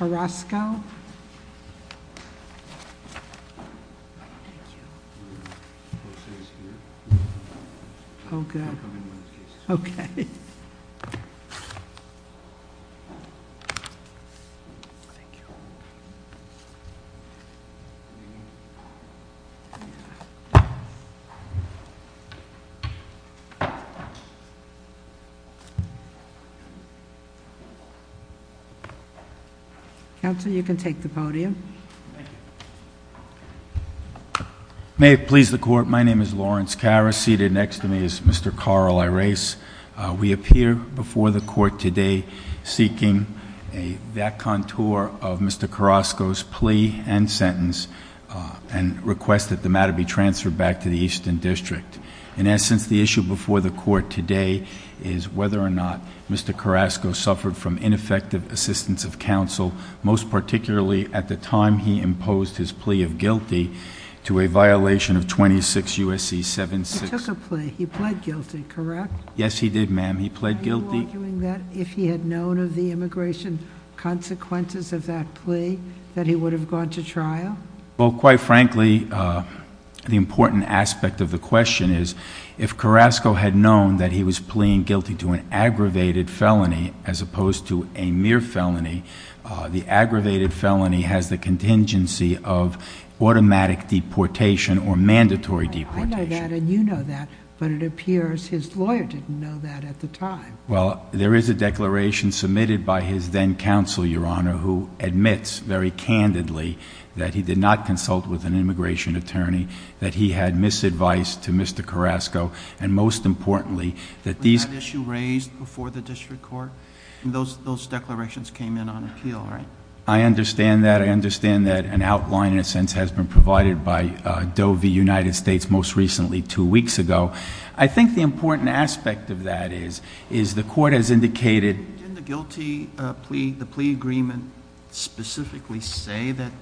Roscoe. Thank you. Okay. Okay. Okay. Council, you can take the podium. Thank you. May it please the Court, my name is Lawrence Karras. Seated next to me is Mr. Carl Irace. We appear before the Court today seeking that contour of Mr. Carrasco's plea and sentence and request that the matter be transferred back to the Easton District. In essence, the issue before the Court today is whether or not Mr. Carrasco suffered from ineffective assistance of counsel, most particularly at the time he imposed his plea of guilty to a violation of 26 U.S.C. 7-6. He took a plea. He pled guilty, correct? Yes, he did, ma'am. He pled guilty. Are you arguing that if he had known of the immigration consequences of that plea that he would have gone to trial? Well, quite frankly, the important aspect of the question is, if Carrasco had known that he was pleading guilty to an aggravated felony as opposed to a mere felony, the aggravated felony has the contingency of automatic deportation or mandatory deportation. I know that and you know that, but it appears his lawyer didn't know that at the time. Well, there is a declaration submitted by his then counsel, Your Honor, who admits very candidly that he did not consult with an immigration attorney, that he had misadvised to Mr. Carrasco, and most importantly that these... Was that issue raised before the District Court? Those declarations came in on appeal, right? I understand that. I understand that an outline, in a sense, has been provided by Doe v. United States most recently two weeks ago. I think the important aspect of that is, is the court has indicated... Did it specifically say that...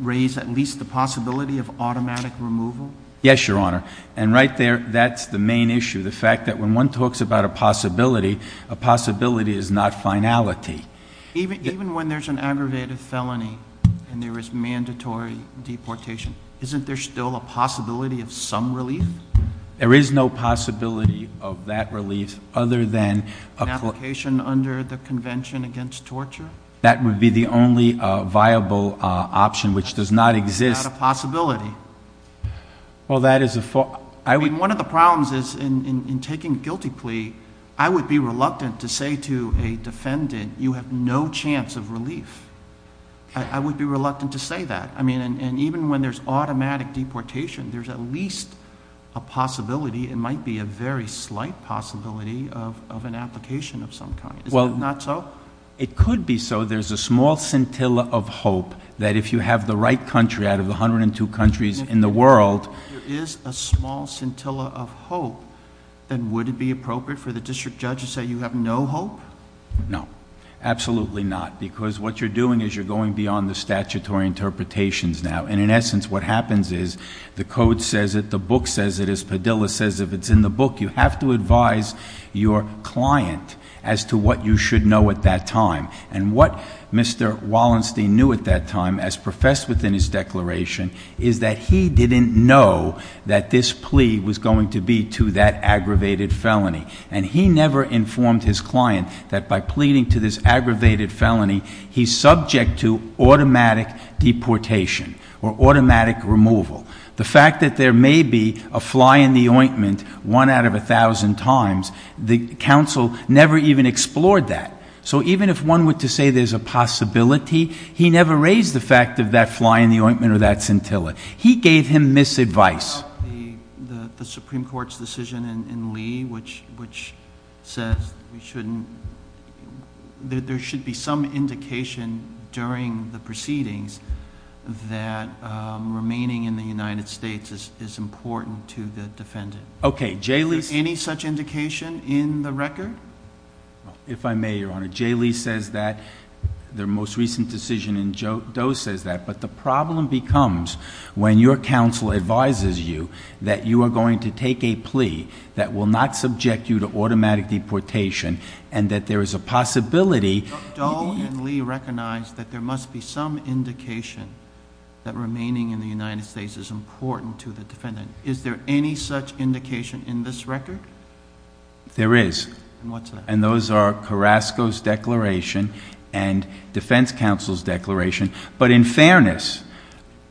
raise at least the possibility of automatic removal? Yes, Your Honor. And right there, that's the main issue, the fact that when one talks about a possibility, a possibility is not finality. Even when there's an aggravated felony and there is mandatory deportation, isn't there still a possibility of some relief? There is no possibility of that relief other than... An application under the Convention Against Torture? That would be the only viable option, which does not exist. It's not a possibility. Well, that is a... I mean, one of the problems is in taking a guilty plea, I would be reluctant to say to a defendant, you have no chance of relief. I would be reluctant to say that. Even when there's automatic deportation, there's at least a possibility, it might be a very slight possibility, of an application of some kind. Is that not so? It could be so. There's a small scintilla of hope that if you have the right country out of the 102 countries in the world... If there is a small scintilla of hope, then would it be appropriate for the district judge to say you have no hope? No. Absolutely not, because what you're doing is you're going beyond the statutory interpretations now. And, in essence, what happens is the code says it, the book says it, as Padilla says, if it's in the book, you have to advise your client as to what you should know at that time. And, what Mr. Wallenstein knew at that time, as professed within his declaration, is that he didn't know that this plea was going to be to that aggravated felony. And, he never informed his client that by pleading to this aggravated felony, he's subject to automatic deportation or automatic removal. The fact that there may be a fly in the ointment, one out of a thousand times, the counsel never even explored that. So, even if one were to say there's a possibility, he never raised the fact of that fly in the ointment or that scintilla. He gave him misadvice. The Supreme Court's decision in Lee, which says there should be some indication during the proceedings that remaining in the United States is important to the defendant. Okay. Is there any such indication in the record? If I may, Your Honor, J. Lee says that. Their most recent decision in Doe says that. But, the problem becomes when your counsel advises you that you are going to take a plea that will not subject you to automatic deportation and that there is a possibility. Doe and Lee recognized that there must be some indication that remaining in the United States is important to the defendant. Is there any such indication in this record? There is. And, what's that? And, those are Carrasco's declaration and defense counsel's declaration. But, in fairness,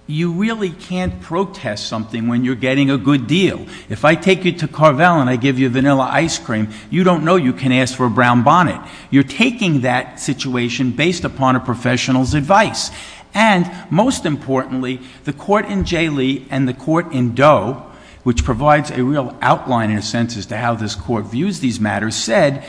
you really can't protest something when you're getting a good deal. If I take you to Carvel and I give you vanilla ice cream, you don't know you can ask for a brown bonnet. You're taking that situation based upon a professional's advice. And, most importantly, the court in J. Lee and the court in Doe, which provides a real outline in a sense as to how this court views these matters, said,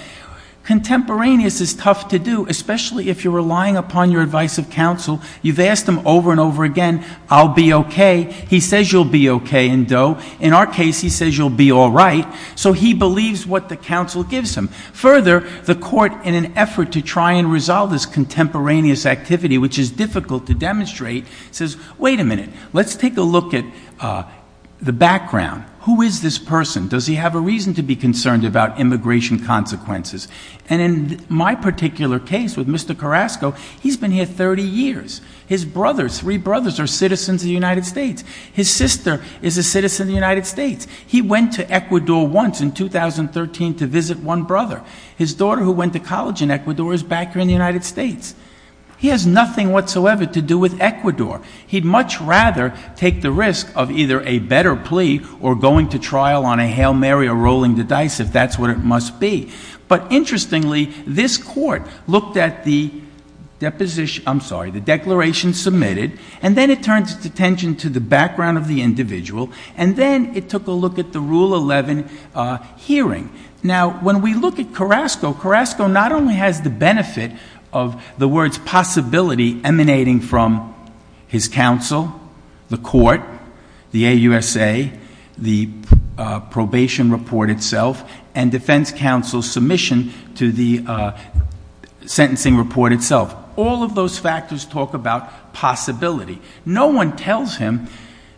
contemporaneous is tough to do, especially if you're relying upon your advice of counsel. You've asked him over and over again, I'll be okay. He says you'll be okay in Doe. In our case, he says you'll be all right. So, he believes what the counsel gives him. Further, the court, in an effort to try and resolve this contemporaneous activity, which is difficult to demonstrate, says, wait a minute. Let's take a look at the background. Who is this person? Does he have a reason to be concerned about immigration consequences? And, in my particular case with Mr. Carrasco, he's been here 30 years. His brothers, three brothers, are citizens of the United States. His sister is a citizen of the United States. He went to Ecuador once in 2013 to visit one brother. His daughter, who went to college in Ecuador, is back here in the United States. He has nothing whatsoever to do with Ecuador. He'd much rather take the risk of either a better plea or going to trial on a Hail Mary or rolling the dice, if that's what it must be. But, interestingly, this court looked at the deposition — I'm sorry, the declaration submitted, and then it turned its attention to the background of the individual, and then it took a look at the Rule 11 hearing. Now, when we look at Carrasco, Carrasco not only has the benefit of the words possibility emanating from his counsel, the court, the AUSA, the probation report itself, and defense counsel's submission to the sentencing report itself. All of those factors talk about possibility. No one tells him,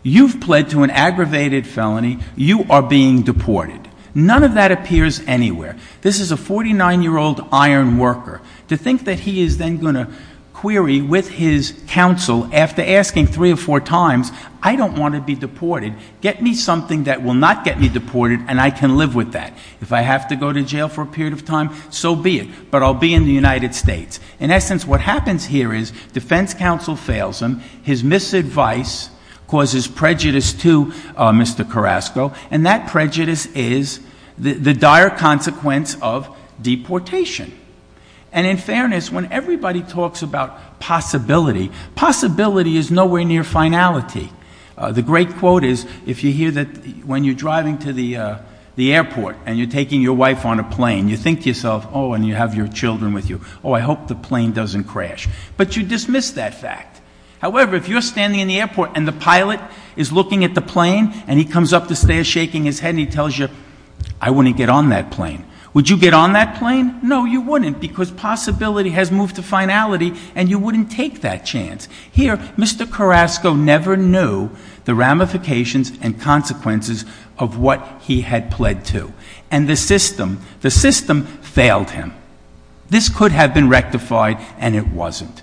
you've pled to an aggravated felony, you are being deported. None of that appears anywhere. This is a 49-year-old iron worker. To think that he is then going to query with his counsel, after asking three or four times, I don't want to be deported, get me something that will not get me deported and I can live with that. If I have to go to jail for a period of time, so be it, but I'll be in the United States. In essence, what happens here is defense counsel fails him, his misadvice causes prejudice to Mr. Carrasco, and that prejudice is the dire consequence of deportation. And in fairness, when everybody talks about possibility, possibility is nowhere near finality. The great quote is, if you hear that when you're driving to the airport and you're taking your wife on a plane, you think to yourself, oh, and you have your children with you, oh, I hope the plane doesn't crash. But you dismiss that fact. However, if you're standing in the airport and the pilot is looking at the plane and he comes up the stairs shaking his head and he tells you, I wouldn't get on that plane, would you get on that plane? No, you wouldn't, because possibility has moved to finality and you wouldn't take that chance. Here, Mr. Carrasco never knew the ramifications and consequences of what he had pled to. And the system failed him. This could have been rectified, and it wasn't.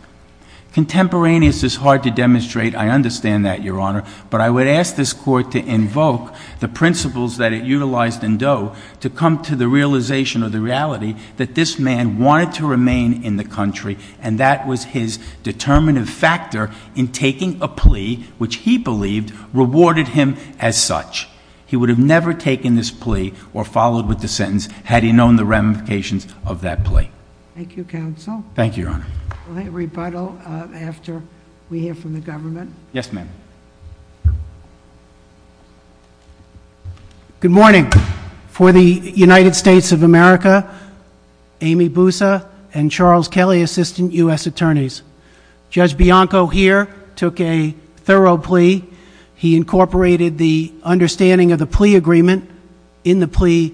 Contemporaneous is hard to demonstrate. I understand that, Your Honor. But I would ask this Court to invoke the principles that it utilized in Doe to come to the realization or the reality that this man wanted to remain in the country, and that was his determinative factor in taking a plea which he believed rewarded him as such. He would have never taken this plea or followed with the sentence had he known the ramifications of that plea. Thank you, Counsel. Thank you, Your Honor. Will I rebuttal after we hear from the government? Yes, ma'am. Good morning. For the United States of America, Amy Boussa and Charles Kelly, Assistant U.S. Attorneys. Judge Bianco here took a thorough plea. He incorporated the understanding of the plea agreement in the plea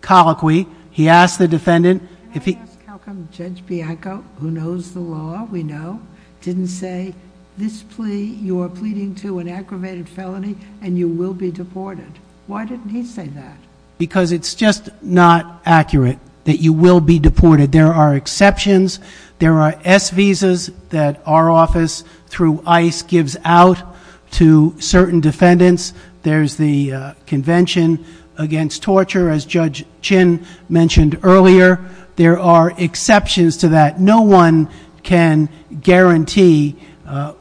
colloquy. Can I ask how come Judge Bianco, who knows the law, we know, didn't say this plea you are pleading to an aggravated felony and you will be deported? Why didn't he say that? Because it's just not accurate that you will be deported. There are exceptions. There are S visas that our office through ICE gives out to certain defendants. There's the Convention Against Torture, as Judge Chin mentioned earlier. There are exceptions to that. No one can guarantee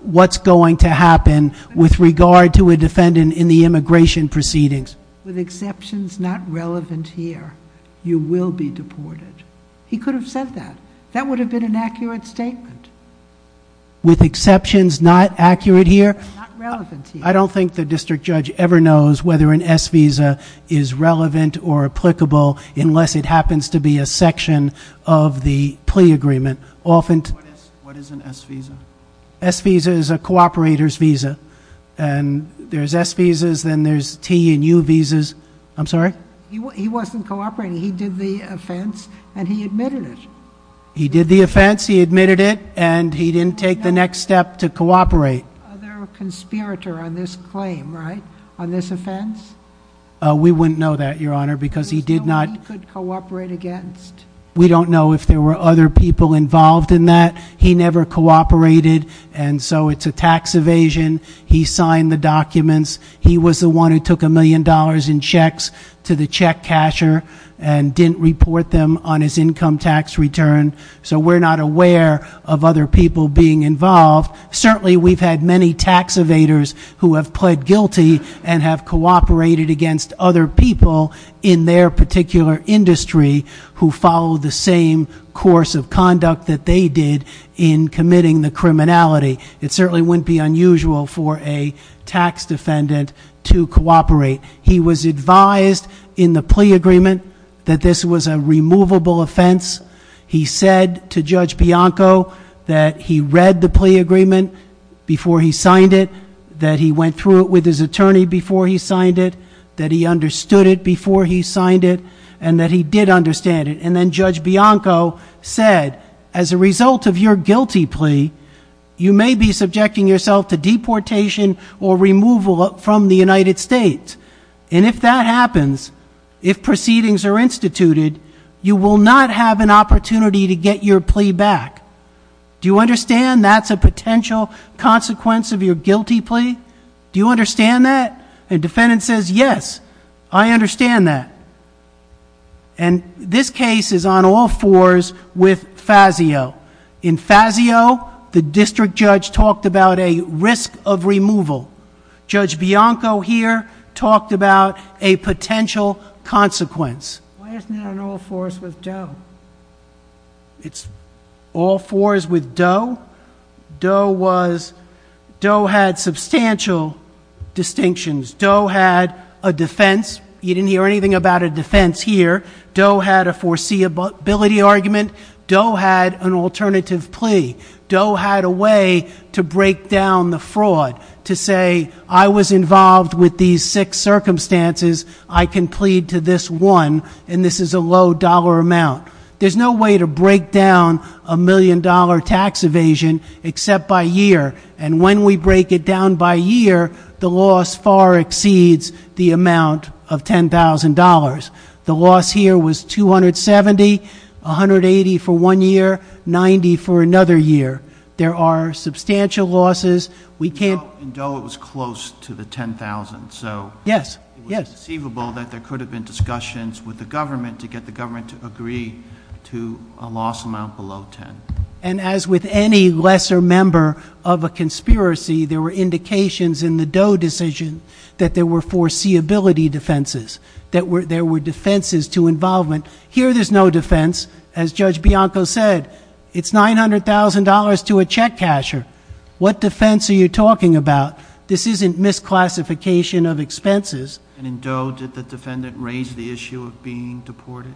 what's going to happen with regard to a defendant in the immigration proceedings. With exceptions not relevant here, you will be deported. He could have said that. That would have been an accurate statement. With exceptions not accurate here? Not relevant here. I don't think the district judge ever knows whether an S visa is relevant or applicable unless it happens to be a section of the plea agreement. What is an S visa? S visa is a cooperator's visa. There's S visas, then there's T and U visas. I'm sorry? He wasn't cooperating. He did the offense and he admitted it. He did the offense, he admitted it, and he didn't take the next step to cooperate. There's no other conspirator on this claim, right? On this offense? We wouldn't know that, Your Honor, because he did not... There's no one he could cooperate against? We don't know if there were other people involved in that. He never cooperated, and so it's a tax evasion. He signed the documents. He was the one who took a million dollars in checks to the check casher and didn't report them on his income tax return, so we're not aware of other people being involved. Certainly we've had many tax evaders who have pled guilty and have cooperated against other people in their particular industry who follow the same course of conduct that they did in committing the criminality. It certainly wouldn't be unusual for a tax defendant to cooperate. He was advised in the plea agreement that this was a removable offense. He said to Judge Bianco that he read the plea agreement before he signed it, that he went through it with his attorney before he signed it, that he understood it before he signed it, and that he did understand it. And then Judge Bianco said, as a result of your guilty plea, you may be subjecting yourself to deportation or removal from the United States. And if that happens, if proceedings are instituted, you will not have an opportunity to get your plea back. Do you understand that's a potential consequence of your guilty plea? Do you understand that? The defendant says, yes, I understand that. And this case is on all fours with Fazio. In Fazio, the district judge talked about a risk of removal. Judge Bianco here talked about a potential consequence. Why isn't it on all fours with Doe? It's all fours with Doe? Doe had substantial distinctions. Doe had a defense. You didn't hear anything about a defense here. Doe had a foreseeability argument. Doe had an alternative plea. Doe had a way to break down the fraud, to say, I was involved with these six circumstances, I can plead to this one, and this is a low dollar amount. There's no way to break down a million-dollar tax evasion except by year. And when we break it down by year, the loss far exceeds the amount of $10,000. The loss here was $270,000, $180,000 for one year, $90,000 for another year. There are substantial losses. In Doe, it was close to the $10,000. So it was deceivable that there could have been discussions with the government to get the government to agree to a loss amount below $10,000. And as with any lesser member of a conspiracy, there were indications in the Doe decision that there were foreseeability defenses that there were defenses to involvement. Here there's no defense. As Judge Bianco said, it's $900,000 to a check casher. What defense are you talking about? This isn't misclassification of expenses. And in Doe, did the defendant raise the issue of being deported,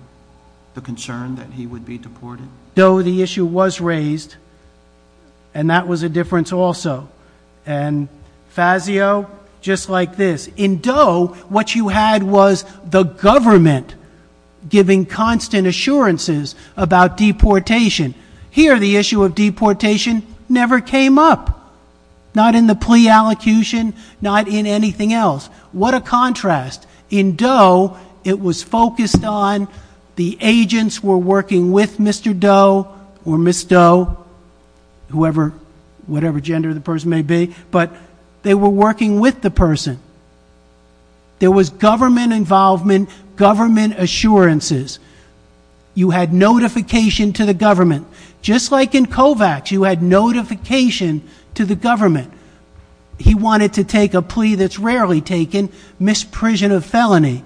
the concern that he would be deported? Doe, the issue was raised, and that was a difference also. And Fazio, just like this. In Doe, what you had was the government giving constant assurances about deportation. Here the issue of deportation never came up, not in the plea allocution, not in anything else. What a contrast. In Doe, it was focused on the agents were working with Mr. Doe or Miss Doe, whoever, whatever gender the person may be, but they were working with the person. There was government involvement, government assurances. You had notification to the government. Just like in Kovacs, you had notification to the government. He wanted to take a plea that's rarely taken, misprision of felony,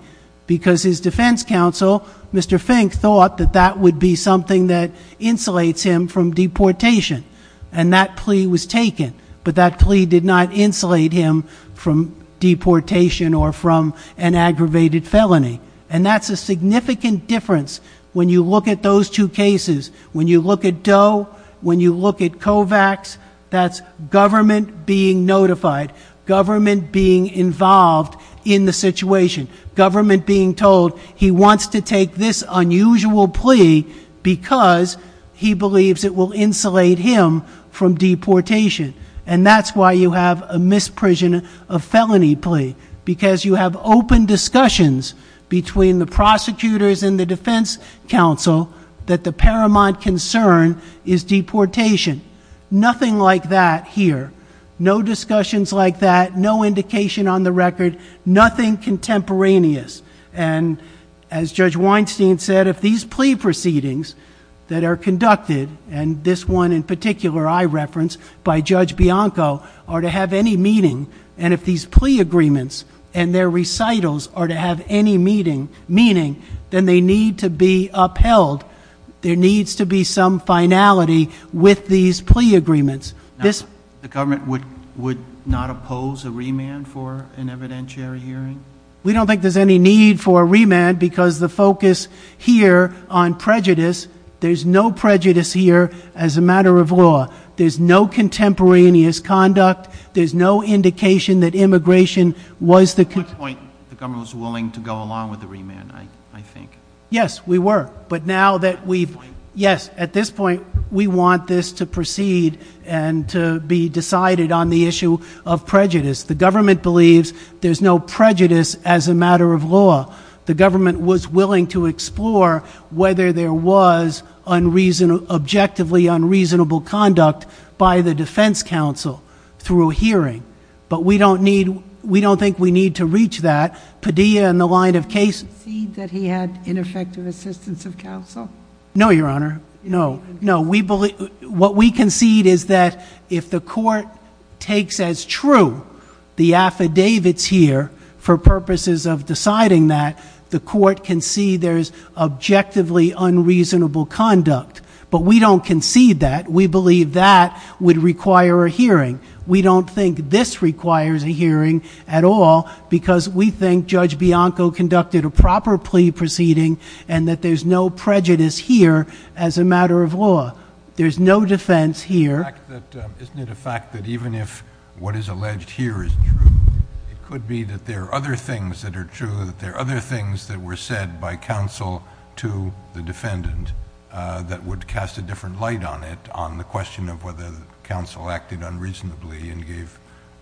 because his defense counsel, Mr. Fink, thought that that would be something that insulates him from deportation. And that plea was taken, but that plea did not insulate him from deportation or from an aggravated felony. And that's a significant difference when you look at those two cases. When you look at Doe, when you look at Kovacs, that's government being notified, government being involved in the situation, government being told he wants to take this unusual plea because he believes it will insulate him from deportation. And that's why you have a misprision of felony plea, because you have open discussions between the prosecutors and the defense counsel that the paramount concern is deportation. Nothing like that here. No discussions like that, no indication on the record, nothing contemporaneous. And as Judge Weinstein said, if these plea proceedings that are conducted, and this one in particular I referenced by Judge Bianco, are to have any meaning, and if these plea agreements and their recitals are to have any meaning, then they need to be upheld. There needs to be some finality with these plea agreements. The government would not oppose a remand for an evidentiary hearing? We don't think there's any need for a remand because the focus here on prejudice, there's no prejudice here as a matter of law. There's no contemporaneous conduct. There's no indication that immigration was the concern. At one point the government was willing to go along with the remand, I think. Yes, we were. But now that we've, yes, at this point we want this to proceed and to be decided on the issue of prejudice. The government believes there's no prejudice as a matter of law. The government was willing to explore whether there was objectively unreasonable conduct by the defense counsel through a hearing. But we don't think we need to reach that. Do you concede that he had ineffective assistance of counsel? No, Your Honor, no. What we concede is that if the court takes as true the affidavits here for purposes of deciding that, the court can see there's objectively unreasonable conduct. But we don't concede that. We believe that would require a hearing. We don't think this requires a hearing at all because we think Judge Bianco conducted a proper plea proceeding and that there's no prejudice here as a matter of law. There's no defense here. Isn't it a fact that even if what is alleged here is true, it could be that there are other things that are true, that there are other things that were said by counsel to the defendant that would cast a different light on it, on the question of whether counsel acted unreasonably and gave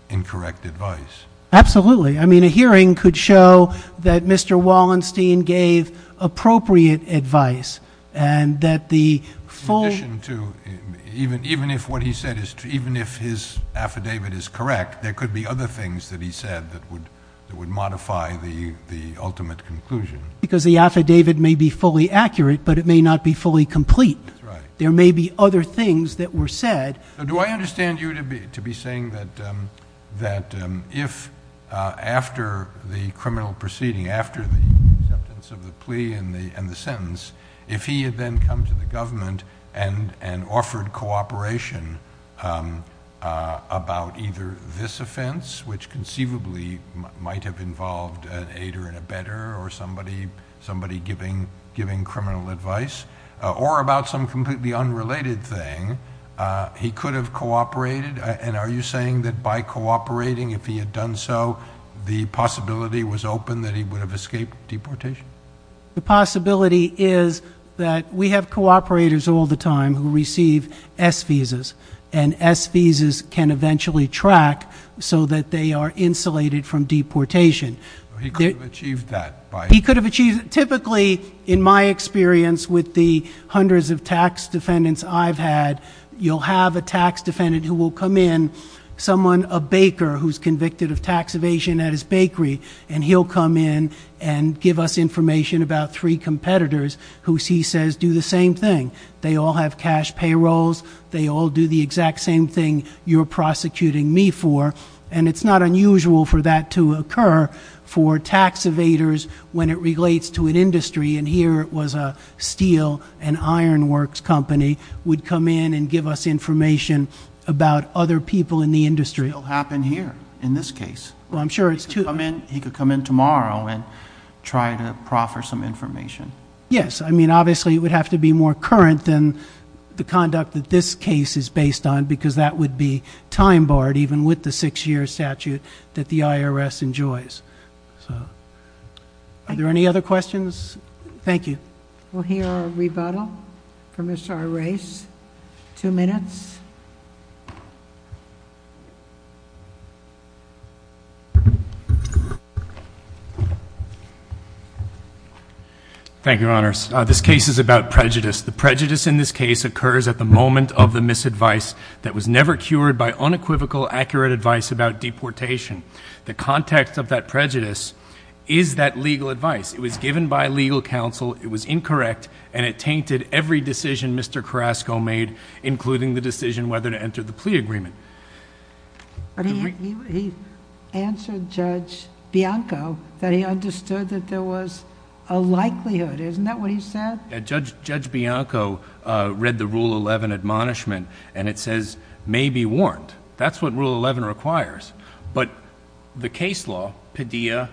incorrect advice? Absolutely. I mean, a hearing could show that Mr. Wallenstein gave appropriate advice and that the full... In addition to even if what he said is true, even if his affidavit is correct, there could be other things that he said that would modify the ultimate conclusion. Because the affidavit may be fully accurate, but it may not be fully complete. That's right. There may be other things that were said. Do I understand you to be saying that if after the criminal proceeding, after the acceptance of the plea and the sentence, if he had then come to the government and offered cooperation about either this offense, which conceivably might have involved an aider and abetter or somebody giving criminal advice, or about some completely unrelated thing, he could have cooperated? And are you saying that by cooperating, if he had done so, the possibility was open that he would have escaped deportation? The possibility is that we have cooperators all the time who receive S visas, and S visas can eventually track so that they are insulated from deportation. He could have achieved that by... He could have achieved it. Typically, in my experience with the hundreds of tax defendants I've had, you'll have a tax defendant who will come in, someone, a baker, who's convicted of tax evasion at his bakery, and he'll come in and give us information about three competitors who he says do the same thing. They all have cash payrolls. They all do the exact same thing you're prosecuting me for. And it's not unusual for that to occur for tax evaders when it relates to an industry, and here it was a steel and iron works company, would come in and give us information about other people in the industry. It'll happen here in this case. Well, I'm sure it's... He could come in tomorrow and try to proffer some information. Yes. I mean, obviously it would have to be more current than the conduct that this case is based on because that would be time-barred even with the six-year statute that the IRS enjoys. Are there any other questions? Thank you. We'll hear a rebuttal from Mr. Arraiz. Two minutes. Thank you, Your Honors. This case is about prejudice. The prejudice in this case occurs at the moment of the misadvice that was never cured by unequivocal, accurate advice about deportation. The context of that prejudice is that legal advice. It was given by legal counsel. It was incorrect, and it tainted every decision Mr. Carrasco made, including the decision whether to enter the plea agreement. He answered Judge Bianco that he understood that there was a likelihood. Isn't that what he said? Judge Bianco read the Rule 11 admonishment, and it says, may be warned. That's what Rule 11 requires. But the case law, Padilla,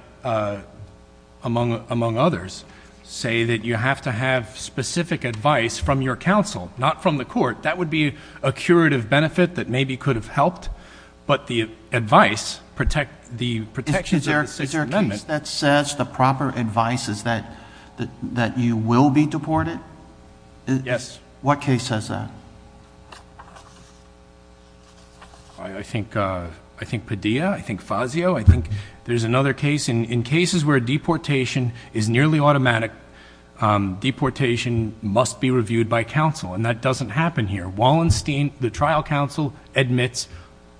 among others, say that you have to have specific advice from your counsel, not from the court. That would be a curative benefit that maybe could have helped, but the advice, the protections of the Sixth Amendment... Yes. What case says that? I think Padilla. I think Fazio. I think there's another case. In cases where deportation is nearly automatic, deportation must be reviewed by counsel, and that doesn't happen here. Wallenstein, the trial counsel, admits,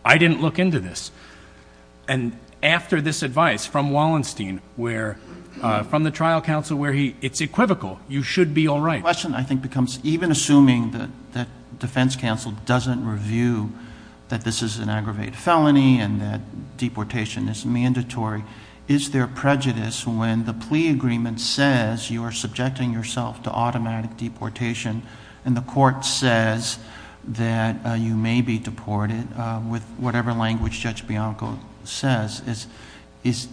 I didn't look into this. And after this advice from Wallenstein, from the trial counsel, where he... it's equivocal. You should be all right. The question, I think, becomes, even assuming that defense counsel doesn't review that this is an aggravated felony and that deportation is mandatory, is there prejudice when the plea agreement says you are subjecting yourself to automatic deportation and the court says that you may be deported with whatever language Judge Bianco says? Is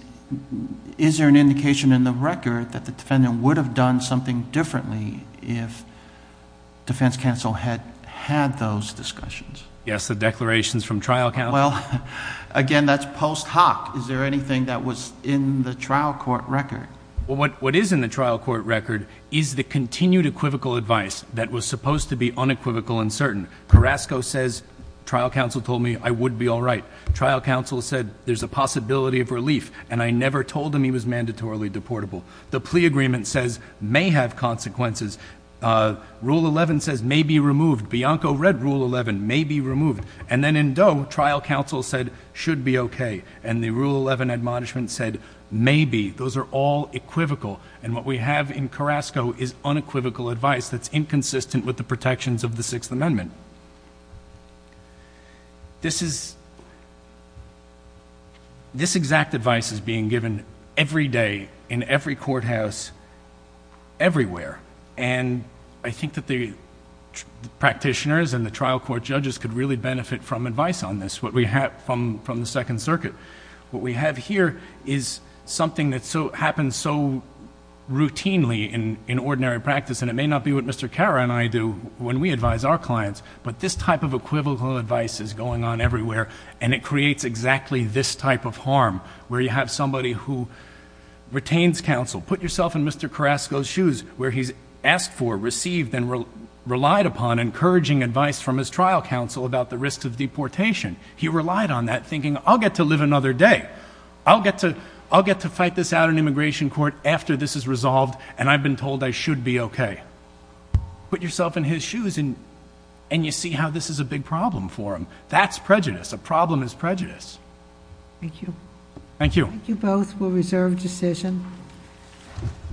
there an indication in the record that the defendant would have done something differently if defense counsel had had those discussions? Yes, the declarations from trial counsel. Well, again, that's post hoc. Is there anything that was in the trial court record? What is in the trial court record is the continued equivocal advice that was supposed to be unequivocal and certain. Carrasco says, trial counsel told me I would be all right. Trial counsel said, there's a possibility of relief, and I never told him he was mandatorily deportable. The plea agreement says, may have consequences. Rule 11 says, may be removed. Bianco read Rule 11, may be removed. And then in Doe, trial counsel said, should be okay. And the Rule 11 admonishment said, may be. Those are all equivocal. And what we have in Carrasco is unequivocal advice that's inconsistent with the protections of the Sixth Amendment. This exact advice is being given every day, in every courthouse, everywhere. And I think that the practitioners and the trial court judges could really benefit from advice on this, what we have from the Second Circuit. What we have here is something that happens so routinely in ordinary practice, and it may not be what Mr. Carra and I do when we advise our clients, but this type of equivocal advice is going on everywhere, and it creates exactly this type of harm, where you have somebody who retains counsel, put yourself in Mr. Carrasco's shoes, where he's asked for, received, and relied upon encouraging advice from his trial counsel about the risks of deportation. He relied on that, thinking, I'll get to live another day. I'll get to fight this out in immigration court after this is resolved, and I've been told I should be okay. Put yourself in his shoes, and you see how this is a big problem for him. That's prejudice. A problem is prejudice. Thank you. Thank you. Thank you both. We'll reserve decision.